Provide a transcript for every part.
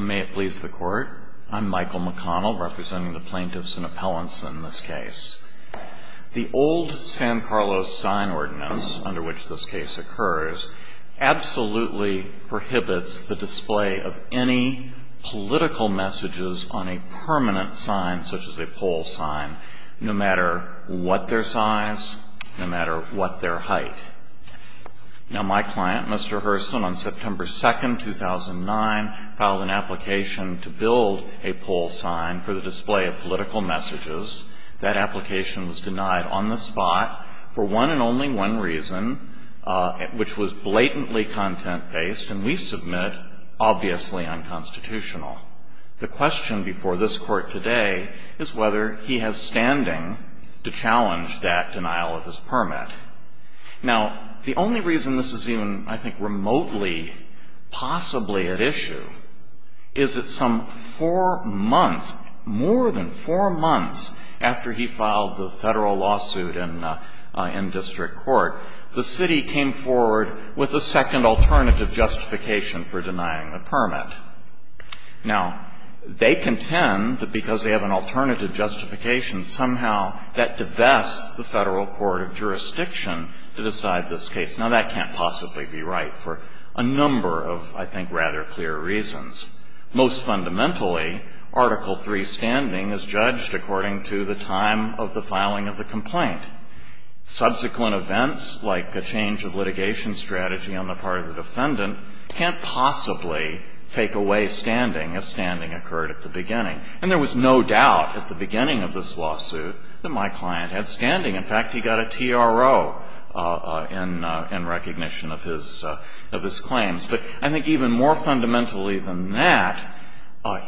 May it please the court, I'm Michael McConnell representing the plaintiffs and appellants in this case. The old San Carlos sign ordinance under which this case occurs absolutely prohibits the display of any political messages on a permanent sign, such as a poll sign, no matter what their size, no matter what their height. Now my client, Mr. Herson, on September 2, 2009, filed an application to build a poll sign for the display of political messages. That application was denied on the spot for one and only one reason, which was blatantly content-based, and we submit obviously unconstitutional. The question before this court today is whether he has standing to challenge that denial of his permit. Now, the only reason this is even, I think, remotely possibly at issue is that some four months, more than four months after he filed the federal lawsuit in district court, the city came forward with a second alternative justification for denying the permit. Now, they contend that because they have an alternative justification, somehow that divests the federal court of jurisdiction to decide this case. Now, that can't possibly be right for a number of, I think, rather clear reasons. Most fundamentally, Article III standing is judged according to the time of the filing of the complaint. Subsequent events, like a change of litigation strategy on the part of the defendant, can't possibly take away standing if standing occurred at the beginning. And there was no doubt at the beginning of this lawsuit that my client had standing. In fact, he got a TRO in recognition of his claims. But I think even more fundamentally than that,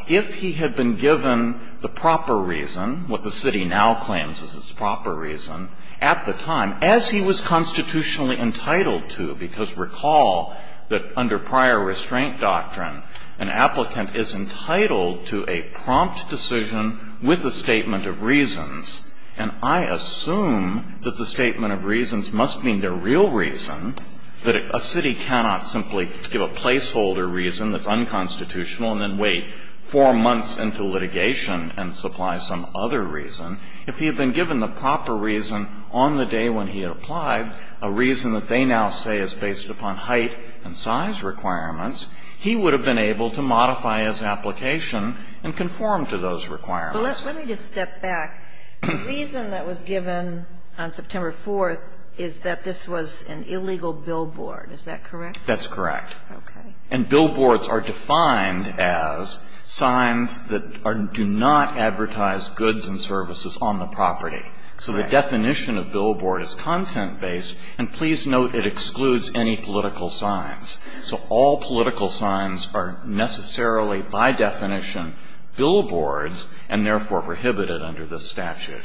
if he had been given the proper reason, what the city now claims is its proper reason, at the time, as he was constitutionally entitled to, because recall that under prior restraint doctrine, an applicant is entitled to a prompt decision with a statement of reasons. And I assume that the statement of reasons must mean their real reason, that a city cannot simply give a placeholder reason that's unconstitutional and then wait four months into litigation and supply some other reason. If he had been given the proper reason on the day when he had applied, a reason that they now say is based upon height and size requirements, he would have been able to modify his application and conform to those requirements. But let me just step back. The reason that was given on September 4th is that this was an illegal billboard. Is that correct? That's correct. Okay. And billboards are defined as signs that do not advertise goods and services on the property. So the definition of billboard is content-based. And please note it excludes any political signs. So all political signs are necessarily, by definition, billboards and therefore prohibited under this statute.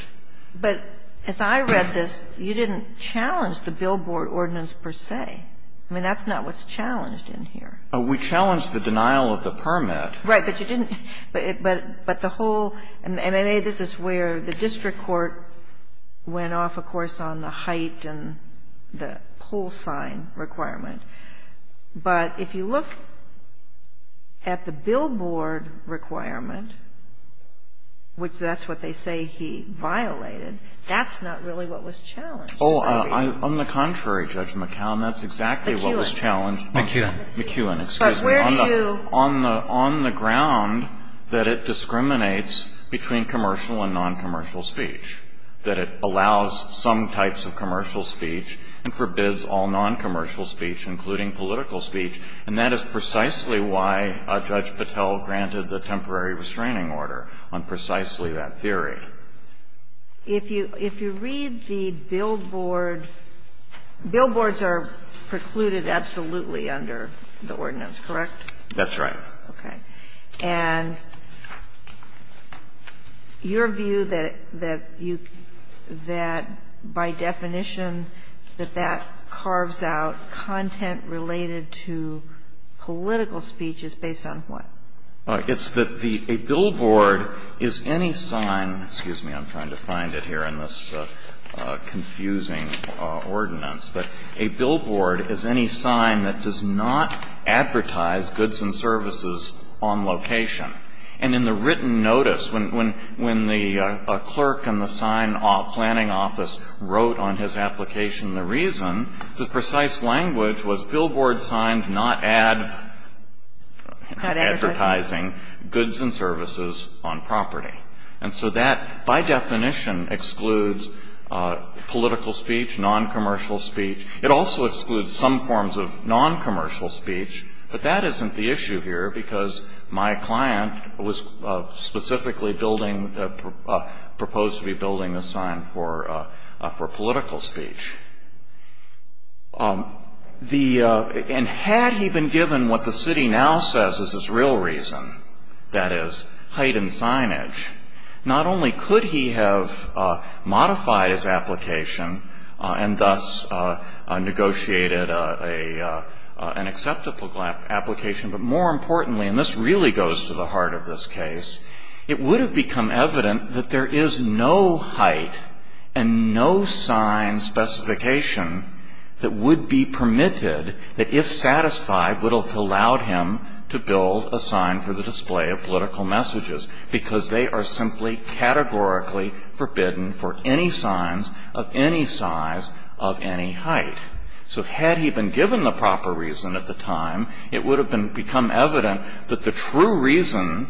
But as I read this, you didn't challenge the billboard ordinance per se. I mean, that's not what's challenged in here. We challenged the denial of the permit. Right. But you didn't. But the whole MMA, this is where the district court went off, of course, on the height and the whole sign requirement. But if you look at the billboard requirement, which that's what they say he violated, that's not really what was challenged. Oh, on the contrary, Judge McCown, that's exactly what was challenged. McEwen. McEwen, excuse me. But where do you On the ground that it discriminates between commercial and noncommercial speech. That it allows some types of commercial speech and forbids all noncommercial speech, including political speech. And that is precisely why Judge Patel granted the temporary restraining order on precisely that theory. If you read the billboard, billboards are precluded absolutely under the ordinance, correct? That's right. Okay. And your view that you, that by definition that that carves out content related to political speech is based on what? It's that a billboard is any sign, excuse me, I'm trying to find it here in this confusing ordinance, but a billboard is any sign that does not advertise goods and services on location. And in the written notice, when the clerk in the sign planning office wrote on his application the reason, the precise language was billboard signs not advertising goods and services on property. And so that by definition excludes political speech, noncommercial speech. It also excludes some forms of noncommercial speech. But that isn't the issue here because my client was specifically building, proposed to be building a sign for political speech. The, and had he been given what the city now says is his real reason, that is heightened signage, not only could he have modified his application and thus negotiated an acceptable application, but more importantly, and this really goes to the heart of this case, it would have become evident that there is no height and no sign specification that would be permitted that if satisfied would have allowed him to build a sign for the display of political messages because they are simply categorically forbidden for any signs of any size of any height. So had he been given the proper reason at the time, it would have become evident that the true reason,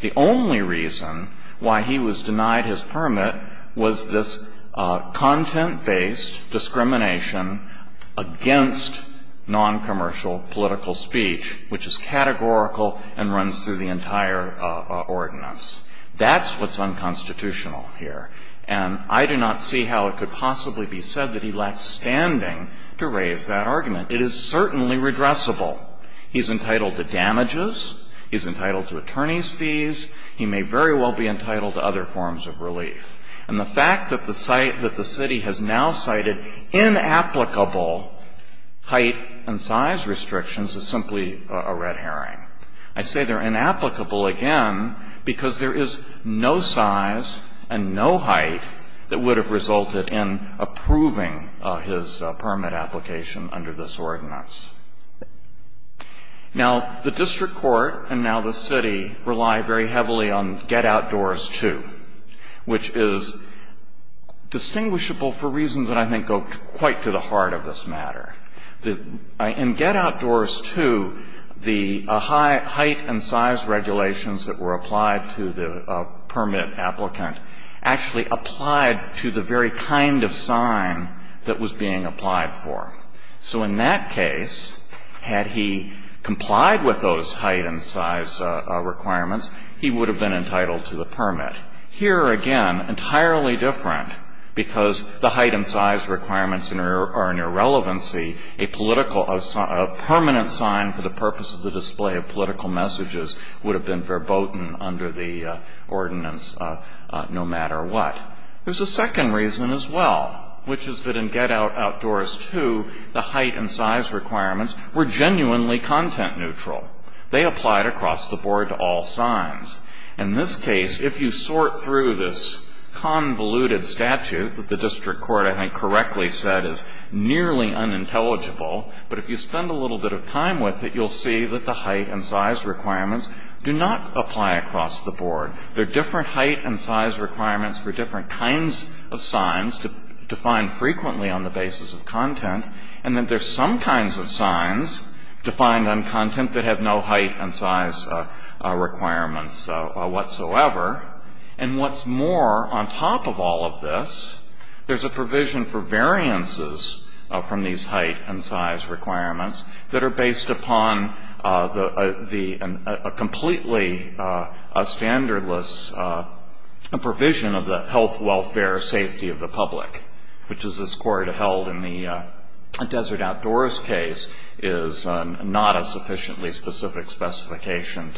the only reason why he was denied his permit was this content-based discrimination against noncommercial political speech, which is categorical and runs through the entire ordinance. That's what's unconstitutional here. And I do not see how it could possibly be said that he lacks standing to raise that argument. It is certainly redressable. He's entitled to damages. He's entitled to attorney's fees. He may very well be entitled to other forms of relief. And the fact that the site, that the city has now cited inapplicable height and size restrictions is simply a red herring. I say they're inapplicable, again, because there is no size and no height that would have resulted in approving his permit application under this ordinance. Now, the district court and now the city rely very heavily on get-outdoors-to, which is distinguishable for reasons that I think go quite to the heart of this matter. In get-outdoors-to, the height and size regulations that were applied to the permit applicant actually applied to the very kind of sign that was being applied for. So in that case, had he complied with those height and size requirements, he would have been entitled to the permit. Here, again, entirely different, because the height and size requirements are an irrelevancy. A permanent sign for the purpose of the display of political messages would have been verboten under the ordinance no matter what. There's a second reason as well, which is that in get-outdoors-to, the height and size requirements were genuinely content neutral. They applied across the board to all signs. In this case, if you sort through this convoluted statute that the district court, I think, correctly said is nearly unintelligible, but if you spend a little bit of time with it, you'll see that the height and size requirements do not apply across the board. There are different height and size requirements for different kinds of signs defined frequently on the basis of content, and that there's some kinds of signs defined on content that have no height and size requirements whatsoever. And what's more, on top of all of this, there's a provision for variances from these height and size requirements that are based upon a completely standardless provision of the health, welfare, safety of the public, which is as court held in the desert-outdoors case is not a sufficiently specific specification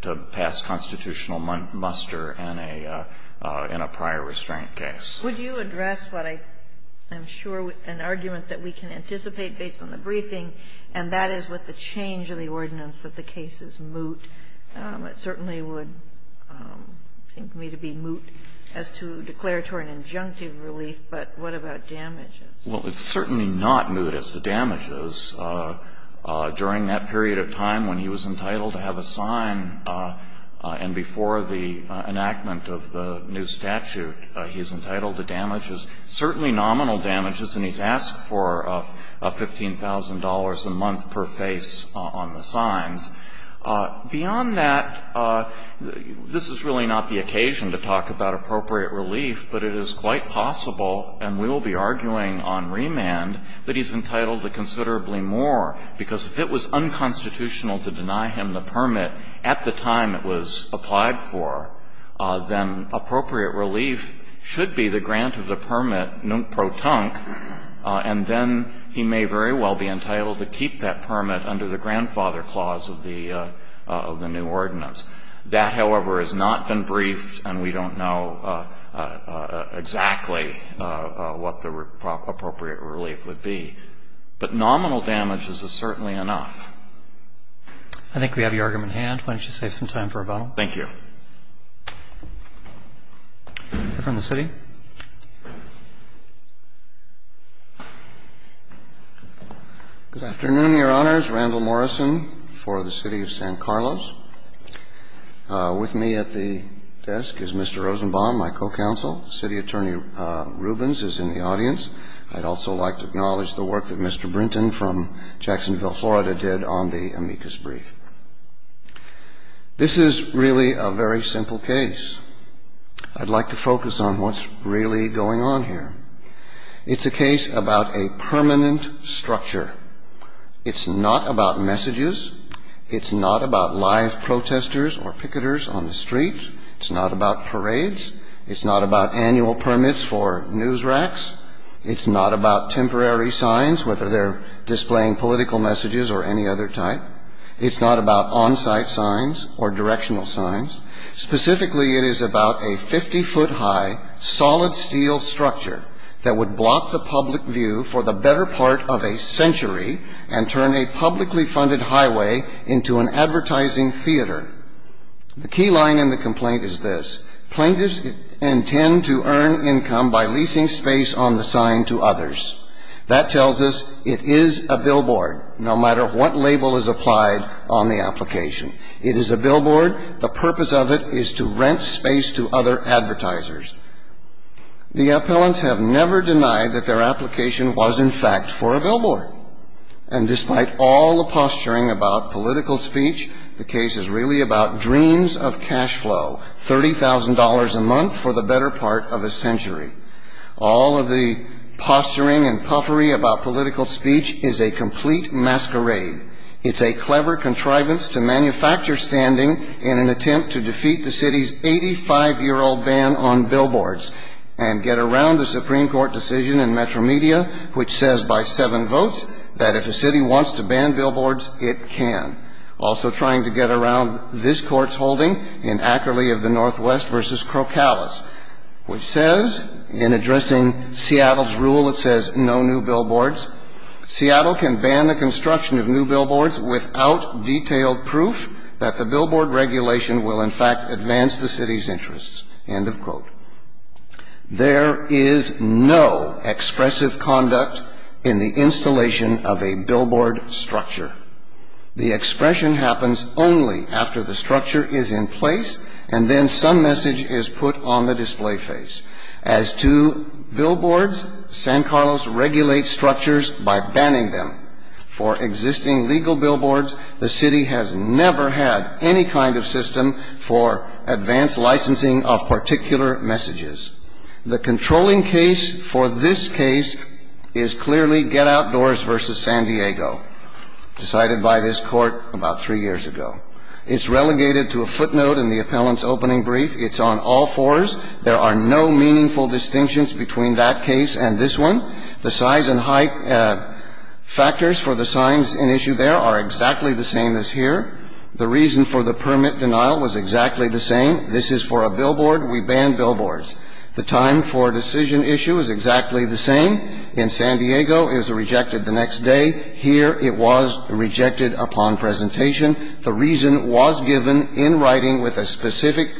to pass constitutional muster in a prior restraint case. Would you address what I'm sure is an argument that we can anticipate based on the briefing, and that is with the change of the ordinance that the case is moot. It certainly would seem to me to be moot as to declaratory and injunctive relief, but what about damages? During that period of time when he was entitled to have a sign and before the enactment of the new statute, he's entitled to damages, certainly nominal damages, and he's asked for $15,000 a month per face on the signs. Beyond that, this is really not the occasion to talk about appropriate relief, but it is quite possible, and we will be arguing on remand, that he's entitled to considerably more, because if it was unconstitutional to deny him the permit at the time it was applied for, then appropriate relief should be the grant of the permit nunt pro tunc, and then he may very well be entitled to keep that permit under the grandfather clause of the new ordinance. That, however, has not been briefed, and we don't know exactly what the appropriate relief would be, but nominal damages is certainly enough. I think we have your argument in hand. Why don't you save some time for rebuttal? Thank you. From the city. Good afternoon, Your Honors. Randall Morrison for the City of San Carlos. With me at the desk is Mr. Rosenbaum, my co-counsel. City Attorney Rubens is in the audience. I'd also like to acknowledge the work that Mr. Brinton from Jacksonville, Florida, did on the amicus brief. This is really a very simple case. I'd like to focus on what's really going on here. It's a case about a permanent structure. It's not about messages. It's not about live protesters or picketers on the street. It's not about parades. It's not about annual permits for news racks. It's not about temporary signs, whether they're displaying political messages or any other type. It's not about on-site signs or directional signs. Specifically, it is about a 50-foot high solid steel structure that would block the public view for the better part of a century and turn a publicly funded highway into an advertising theater. The key line in the complaint is this. Plaintiffs intend to earn income by leasing space on the sign to others. That tells us it is a billboard, no matter what label is applied on the application. It is a billboard. The purpose of it is to rent space to other advertisers. The appellants have never denied that their application was, in fact, for a billboard. And despite all the posturing about political speech, the case is really about dreams of cash flow, $30,000 a month for the better part of a century. All of the posturing and puffery about political speech is a complete masquerade. It's a clever contrivance to manufacture standing in an attempt to defeat the city's 85-year-old ban on billboards and get around the Supreme Court decision in Metro Media, which says by seven votes that if a city wants to ban billboards, it can. Also trying to get around this Court's holding in Ackerley of the Northwest v. Crocalis, which says in addressing Seattle's rule, it says no new billboards. Seattle can ban the construction of new billboards without detailed proof that the billboard regulation will, in fact, advance the city's interests, end of quote. There is no expressive conduct in the installation of a billboard structure. The expression happens only after the structure is in place and then some message is put on the display face. As to billboards, San Carlos regulates structures by banning them. For existing legal billboards, the city has never had any kind of system for advanced licensing of particular messages. The controlling case for this case is clearly Get Outdoors v. San Diego. Decided by this Court about three years ago. It's relegated to a footnote in the appellant's opening brief. It's on all fours. There are no meaningful distinctions between that case and this one. The size and height factors for the signs in issue there are exactly the same as here. The reason for the permit denial was exactly the same. This is for a billboard. We ban billboards. The time for decision issue is exactly the same. In San Diego, it was rejected the next day. Here, it was rejected upon presentation. The reason was given in writing with a specific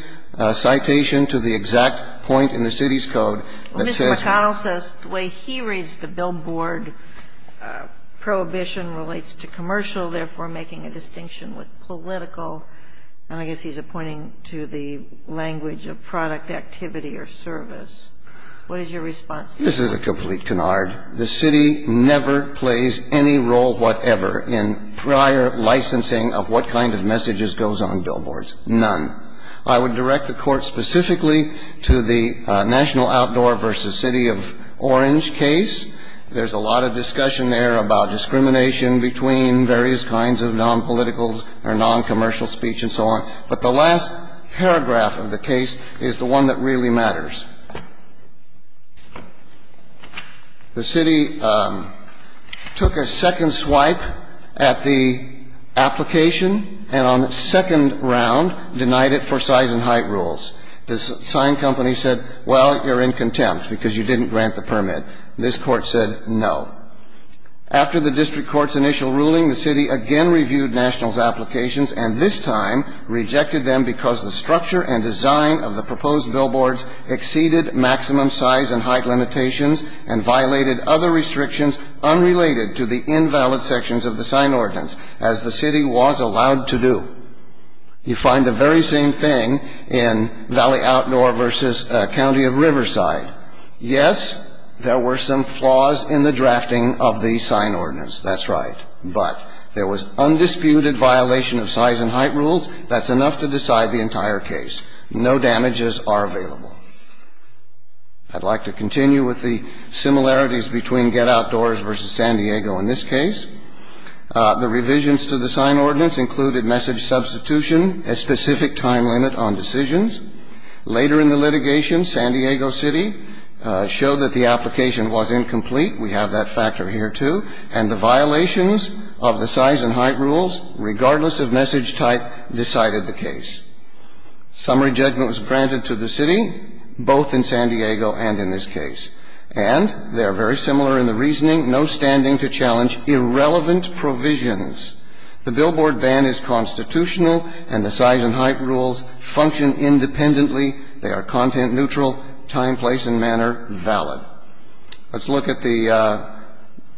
citation to the exact point in the city's code that said that. Mr. McConnell says the way he reads the billboard, prohibition relates to commercial, therefore making a distinction with political. And I guess he's pointing to the language of product activity or service. What is your response to that? This is a complete canard. The city never plays any role whatever in prior licensing of what kind of messages goes on billboards. None. I would direct the Court specifically to the National Outdoor v. City of Orange case. There's a lot of discussion there about discrimination between various kinds of nonpolitical or noncommercial speech and so on. But the last paragraph of the case is the one that really matters. The city took a second swipe at the application and on its second round denied it for size and height rules. The sign company said, well, you're in contempt because you didn't grant the permit. This Court said no. After the district court's initial ruling, the city again reviewed Nationals' applications and this time rejected them because the structure and design of the proposed billboards exceeded maximum size and height limitations and violated other restrictions unrelated to the invalid sections of the sign ordinance as the city was allowed to do. You find the very same thing in Valley Outdoor v. County of Riverside. Yes, there were some flaws in the drafting of the sign ordinance. That's right. But there was undisputed violation of size and height rules. That's enough to decide the entire case. No damages are available. I'd like to continue with the similarities between Get Outdoors v. San Diego in this case. The revisions to the sign ordinance included message substitution, a specific time limit on decisions. Later in the litigation, San Diego City showed that the application was incomplete. We have that factor here, too. And the violations of the size and height rules, regardless of message type, decided the case. Summary judgment was granted to the city, both in San Diego and in this case. And they are very similar in the reasoning. No standing to challenge irrelevant provisions. The billboard ban is constitutional and the size and height rules function independently. They are content neutral, time, place and manner valid. Let's look at the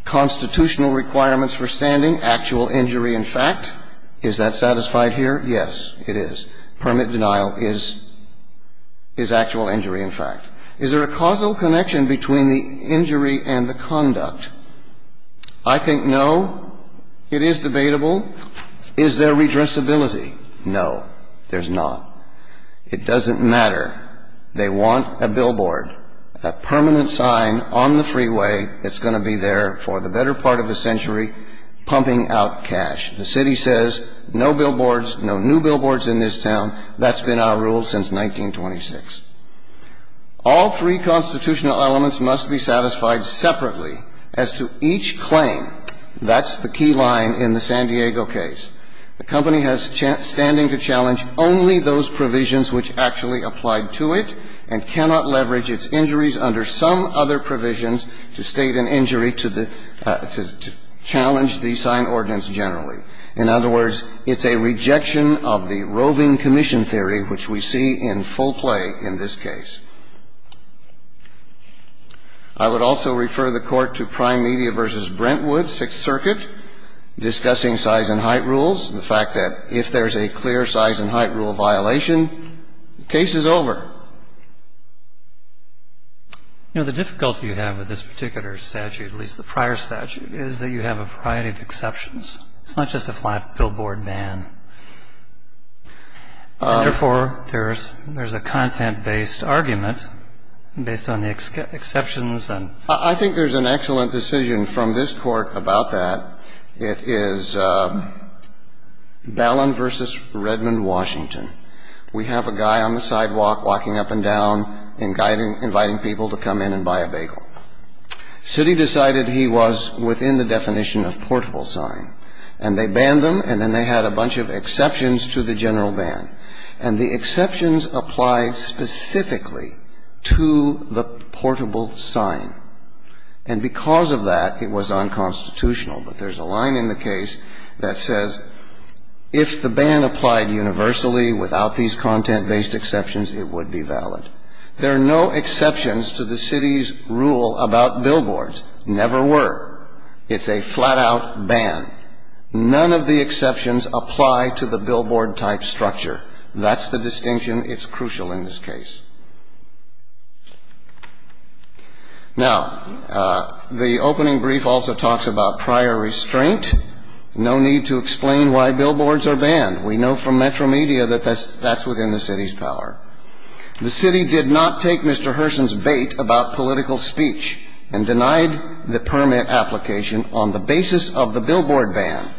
constitutional requirements for standing, actual injury and fact. Is that satisfied here? Yes, it is. Permit denial is actual injury and fact. Is there a causal connection between the injury and the conduct? I think no. It is debatable. Is there redressability? No, there's not. It doesn't matter. They want a billboard, a permanent sign on the freeway that's going to be there for the better part of a century pumping out cash. The city says no billboards, no new billboards in this town. That's been our rule since 1926. All three constitutional elements must be satisfied separately as to each claim. That's the key line in the San Diego case. The company has standing to challenge only those provisions which actually applied to it and cannot leverage its injuries under some other provisions to state an injury to challenge the sign ordinance generally. In other words, it's a rejection of the roving commission theory, which we see in full play in this case. I would also refer the Court to Prime Media v. Brentwood, Sixth Circuit, discussing size and height rules. The fact that if there's a clear size and height rule violation, the case is over. You know, the difficulty you have with this particular statute, at least the prior statute, is that you have a variety of exceptions. It's not just a flat billboard ban. And therefore, there's a content-based argument based on the exceptions and ---- I think there's an excellent decision from this Court about that. It is Ballin v. Redmond, Washington. We have a guy on the sidewalk walking up and down and inviting people to come in and buy a bagel. Citi decided he was within the definition of portable sign. And they banned them, and then they had a bunch of exceptions to the general ban. And the exceptions applied specifically to the portable sign. And because of that, it was unconstitutional. But there's a line in the case that says, if the ban applied universally without these content-based exceptions, it would be valid. There are no exceptions to the Citi's rule about billboards. Never were. It's a flat-out ban. None of the exceptions apply to the billboard-type structure. That's the distinction. It's crucial in this case. Now, the opening brief also talks about prior restraint. No need to explain why billboards are banned. We know from Metro Media that that's within the Citi's power. The Citi did not take Mr. Herson's bait about political speech and denied the permit application on the basis of the billboard ban.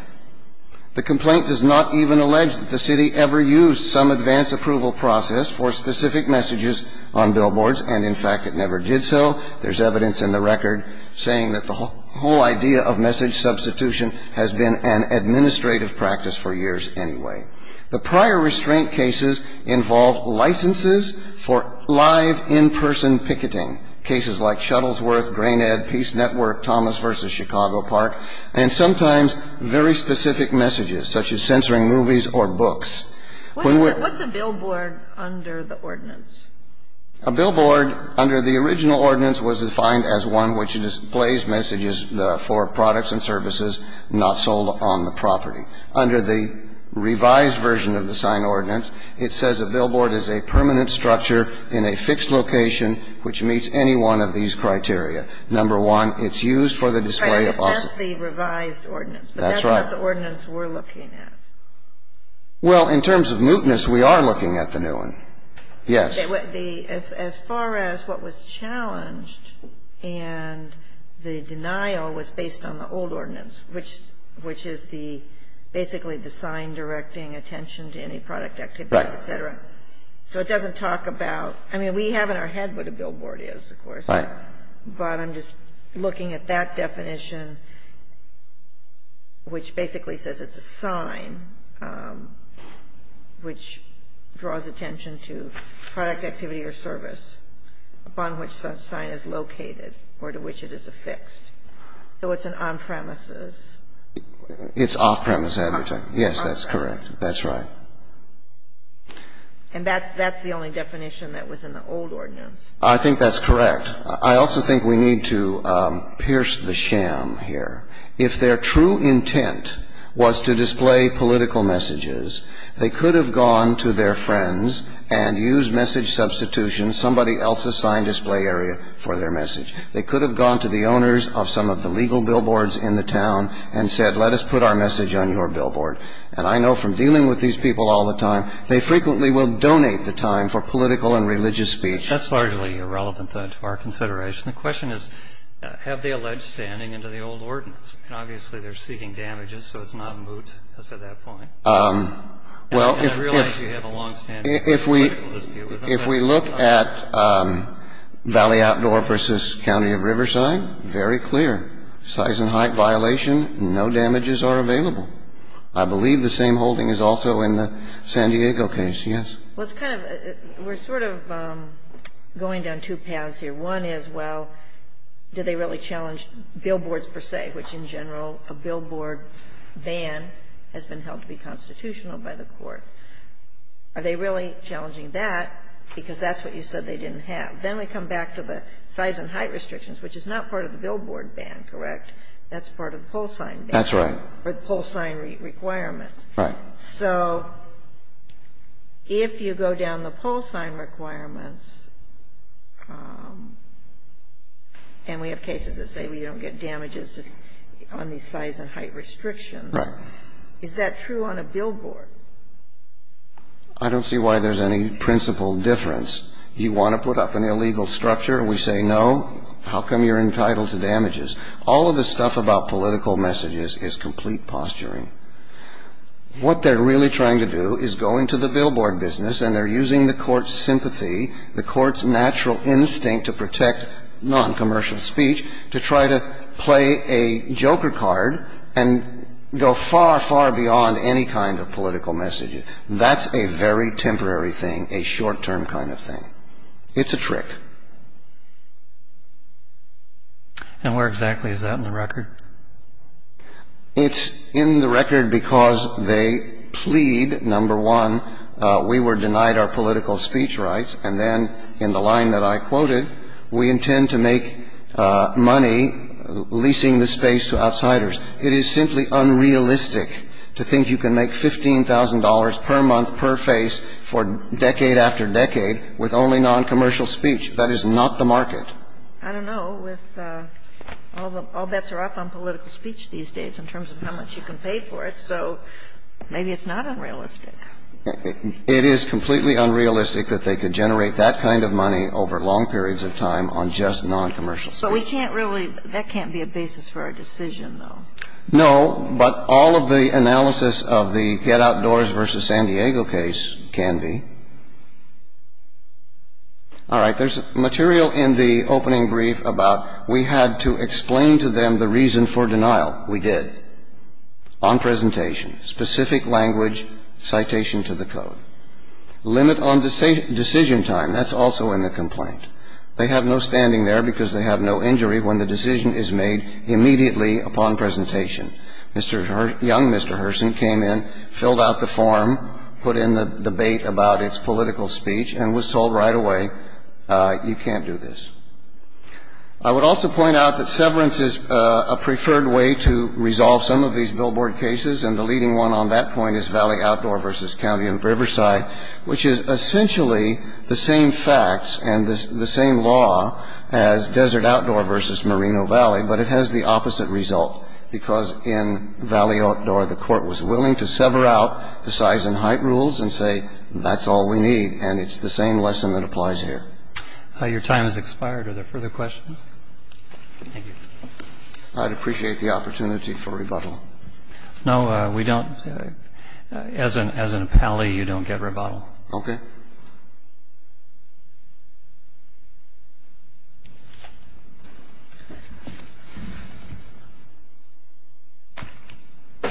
The complaint does not even allege that the Citi ever used some advance approval process for specific messages on billboards. And, in fact, it never did so. There's evidence in the record saying that the whole idea of message substitution has been an administrative practice for years anyway. The prior restraint cases involve licenses for live, in-person picketing, cases like Shuttlesworth, Grain Ed, Peace Network, Thomas v. Chicago Park, and sometimes very specific messages, such as censoring movies or books. What's a billboard under the ordinance? A billboard under the original ordinance was defined as one which displays messages for products and services not sold on the property. Under the revised version of the signed ordinance, it says a billboard is a permanent structure in a fixed location which meets any one of these criteria. Number one, it's used for the display of office. Right. It's just the revised ordinance. That's right. But that's what the ordinance we're looking at. Well, in terms of mootness, we are looking at the new one. Yes. As far as what was challenged and the denial was based on the old ordinance, which is the basically the sign directing attention to any product activity, et cetera. Right. So it doesn't talk about. I mean, we have in our head what a billboard is, of course. Right. But I'm just looking at that definition, which basically says it's a sign which draws attention to product activity or service upon which that sign is located or to which it is affixed. So it's an on-premises. It's off-premises. Yes, that's correct. That's right. And that's the only definition that was in the old ordinance. I think that's correct. I also think we need to pierce the sham here. If their true intent was to display political messages, they could have gone to their friends and used message substitution, somebody else's sign display area for their message. They could have gone to the owners of some of the legal billboards in the town and said, let us put our message on your billboard. And I know from dealing with these people all the time, they frequently will donate the time for political and religious speech. That's largely irrelevant to our consideration. The question is, have they alleged standing into the old ordinance? And obviously they're seeking damages, so it's not moot at that point. And I realize you have a longstanding political dispute with them. If we look at Valley Outdoor v. County of Riverside, very clear. Size and height violation, no damages are available. I believe the same holding is also in the San Diego case, yes. Well, it's kind of we're sort of going down two paths here. One is, well, do they really challenge billboards per se, which in general a billboard ban has been held to be constitutional by the court. Are they really challenging that, because that's what you said they didn't have? Then we come back to the size and height restrictions, which is not part of the billboard ban, correct? That's part of the pole sign ban. That's right. Or the pole sign requirements. Right. So if you go down the pole sign requirements, and we have cases that say we don't get damages just on the size and height restrictions. Right. Is that true on a billboard? I don't see why there's any principal difference. You want to put up an illegal structure, we say no. How come you're entitled to damages? All of the stuff about political messages is complete posturing. What they're really trying to do is go into the billboard business, and they're using the court's sympathy, the court's natural instinct to protect noncommercial speech, to try to play a joker card and go far, far beyond any kind of political messages. That's a very temporary thing, a short-term kind of thing. It's a trick. And where exactly is that in the record? It's in the record because they plead, number one, we were denied our political speech rights. And then in the line that I quoted, we intend to make money leasing the space to outsiders. It is simply unrealistic to think you can make $15,000 per month per face for decade after decade with only noncommercial speech. That is not the market. I don't know. All bets are off on political speech these days in terms of how much you can pay for it, so maybe it's not unrealistic. It is completely unrealistic that they could generate that kind of money over long periods of time on just noncommercial speech. But we can't really – that can't be a basis for our decision, though. No, but all of the analysis of the Head Outdoors v. San Diego case can be. All right. There's material in the opening brief about we had to explain to them the reason for denial. We did. On presentation. Specific language, citation to the code. Limit on decision time. That's also in the complaint. They have no standing there because they have no injury when the decision is made immediately upon presentation. Mr. – young Mr. Herson came in, filled out the form, put in the debate about its political speech, and was told right away, you can't do this. I would also point out that severance is a preferred way to resolve some of these billboard cases, and the leading one on that point is Valley Outdoor v. County Riverside, which is essentially the same facts and the same law as Desert Outdoor v. Marino Valley, but it has the opposite result, because in Valley Outdoor, the court was willing to sever out the size and height rules and say that's all we need, and it's the same lesson that applies here. Your time has expired. Are there further questions? Thank you. I'd appreciate the opportunity for rebuttal. No, we don't. As an appellee, you don't get rebuttal. Okay. Thank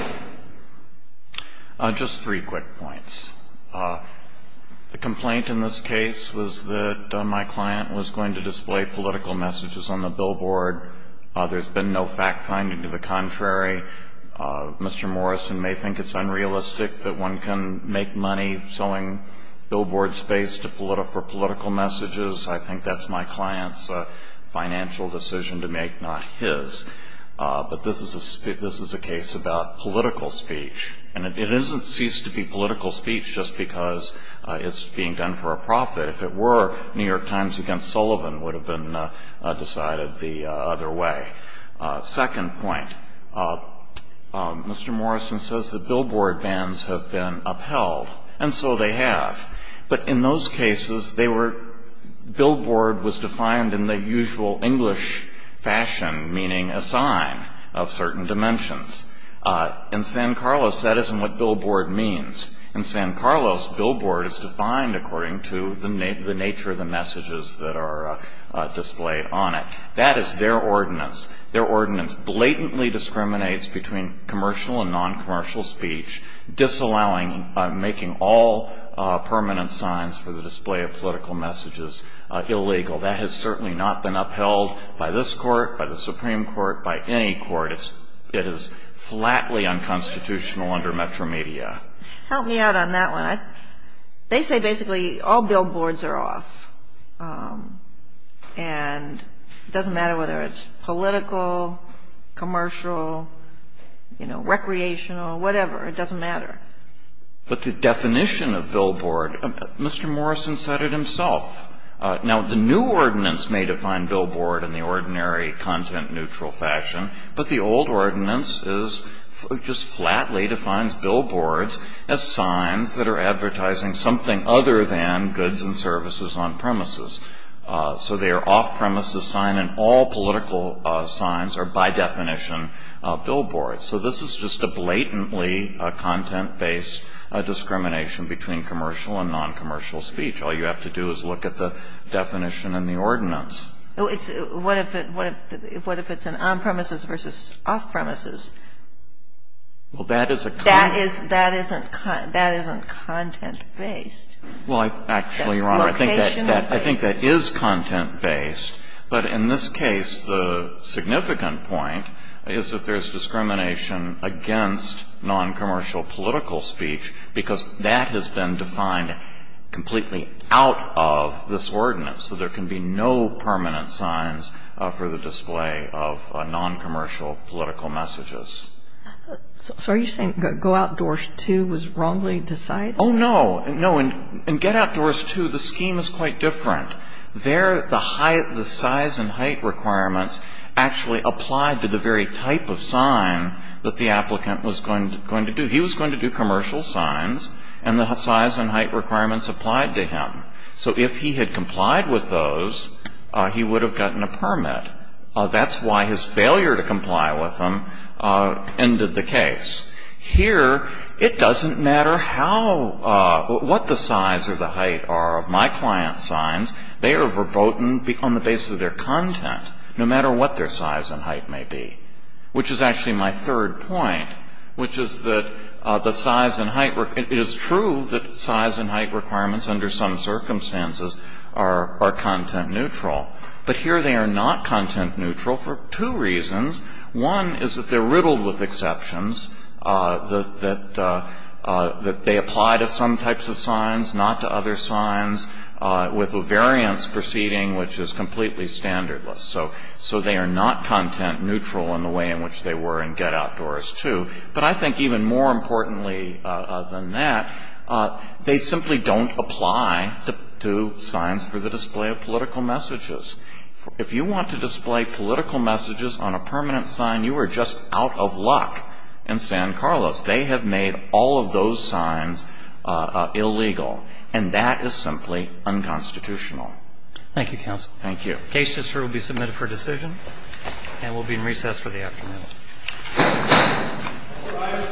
you. Just three quick points. The complaint in this case was that my client was going to display political messages on the billboard. There's been no fact finding. To the contrary, Mr. Morrison may think it's unrealistic that one can make money selling billboard space for political messages. I think that's my client's financial decision to make, not his. But this is a case about political speech, and it doesn't cease to be political speech just because it's being done for a profit. If it were, New York Times v. Sullivan would have been decided the other way. Second point. Mr. Morrison says that billboard bans have been upheld, and so they have. But in those cases, billboard was defined in the usual English fashion, meaning a sign of certain dimensions. In San Carlos, that isn't what billboard means. In San Carlos, billboard is defined according to the nature of the messages that are displayed on it. That is their ordinance. Their ordinance blatantly discriminates between commercial and noncommercial speech, disallowing making all permanent signs for the display of political messages illegal. That has certainly not been upheld by this Court, by the Supreme Court, by any court. It is flatly unconstitutional under Metromedia. Help me out on that one. They say basically all billboards are off. And it doesn't matter whether it's political, commercial, you know, recreational, whatever. It doesn't matter. But the definition of billboard, Mr. Morrison said it himself. Now, the new ordinance may define billboard in the ordinary content-neutral fashion, but the old ordinance just flatly defines billboards as signs that are advertising something other than goods and services on-premises. So they are off-premises signs, and all political signs are by definition billboards. So this is just a blatantly content-based discrimination between commercial and noncommercial speech. All you have to do is look at the definition in the ordinance. What if it's an on-premises versus off-premises? Well, that is a kind of question. That isn't content-based. Well, actually, Your Honor, I think that is content-based. But in this case, the significant point is that there is discrimination against noncommercial political speech because that has been defined completely out of this ordinance. So there can be no permanent signs for the display of noncommercial political messages. So are you saying Go Outdoors 2 was wrongly decided? Oh, no. No, in Get Outdoors 2, the scheme is quite different. There, the size and height requirements actually applied to the very type of sign that the applicant was going to do. He was going to do commercial signs, and the size and height requirements applied to him. So if he had complied with those, he would have gotten a permit. That's why his failure to comply with them ended the case. Here, it doesn't matter how or what the size or the height are of my client's signs. They are verboten on the basis of their content, no matter what their size and height may be, which is actually my third point, which is that the size and height is true that size and height requirements under some circumstances are content-neutral. But here they are not content-neutral for two reasons. One is that they're riddled with exceptions, that they apply to some types of signs, not to other signs, with a variance proceeding which is completely standardless. So they are not content-neutral in the way in which they were in Get Outdoors 2. But I think even more importantly than that, they simply don't apply to signs for the display of political messages. If you want to display political messages on a permanent sign, you are just out of luck in San Carlos. They have made all of those signs illegal. And that is simply unconstitutional. Thank you, counsel. Thank you. The case will be submitted for decision. And we'll be in recess for the afternoon. All rise.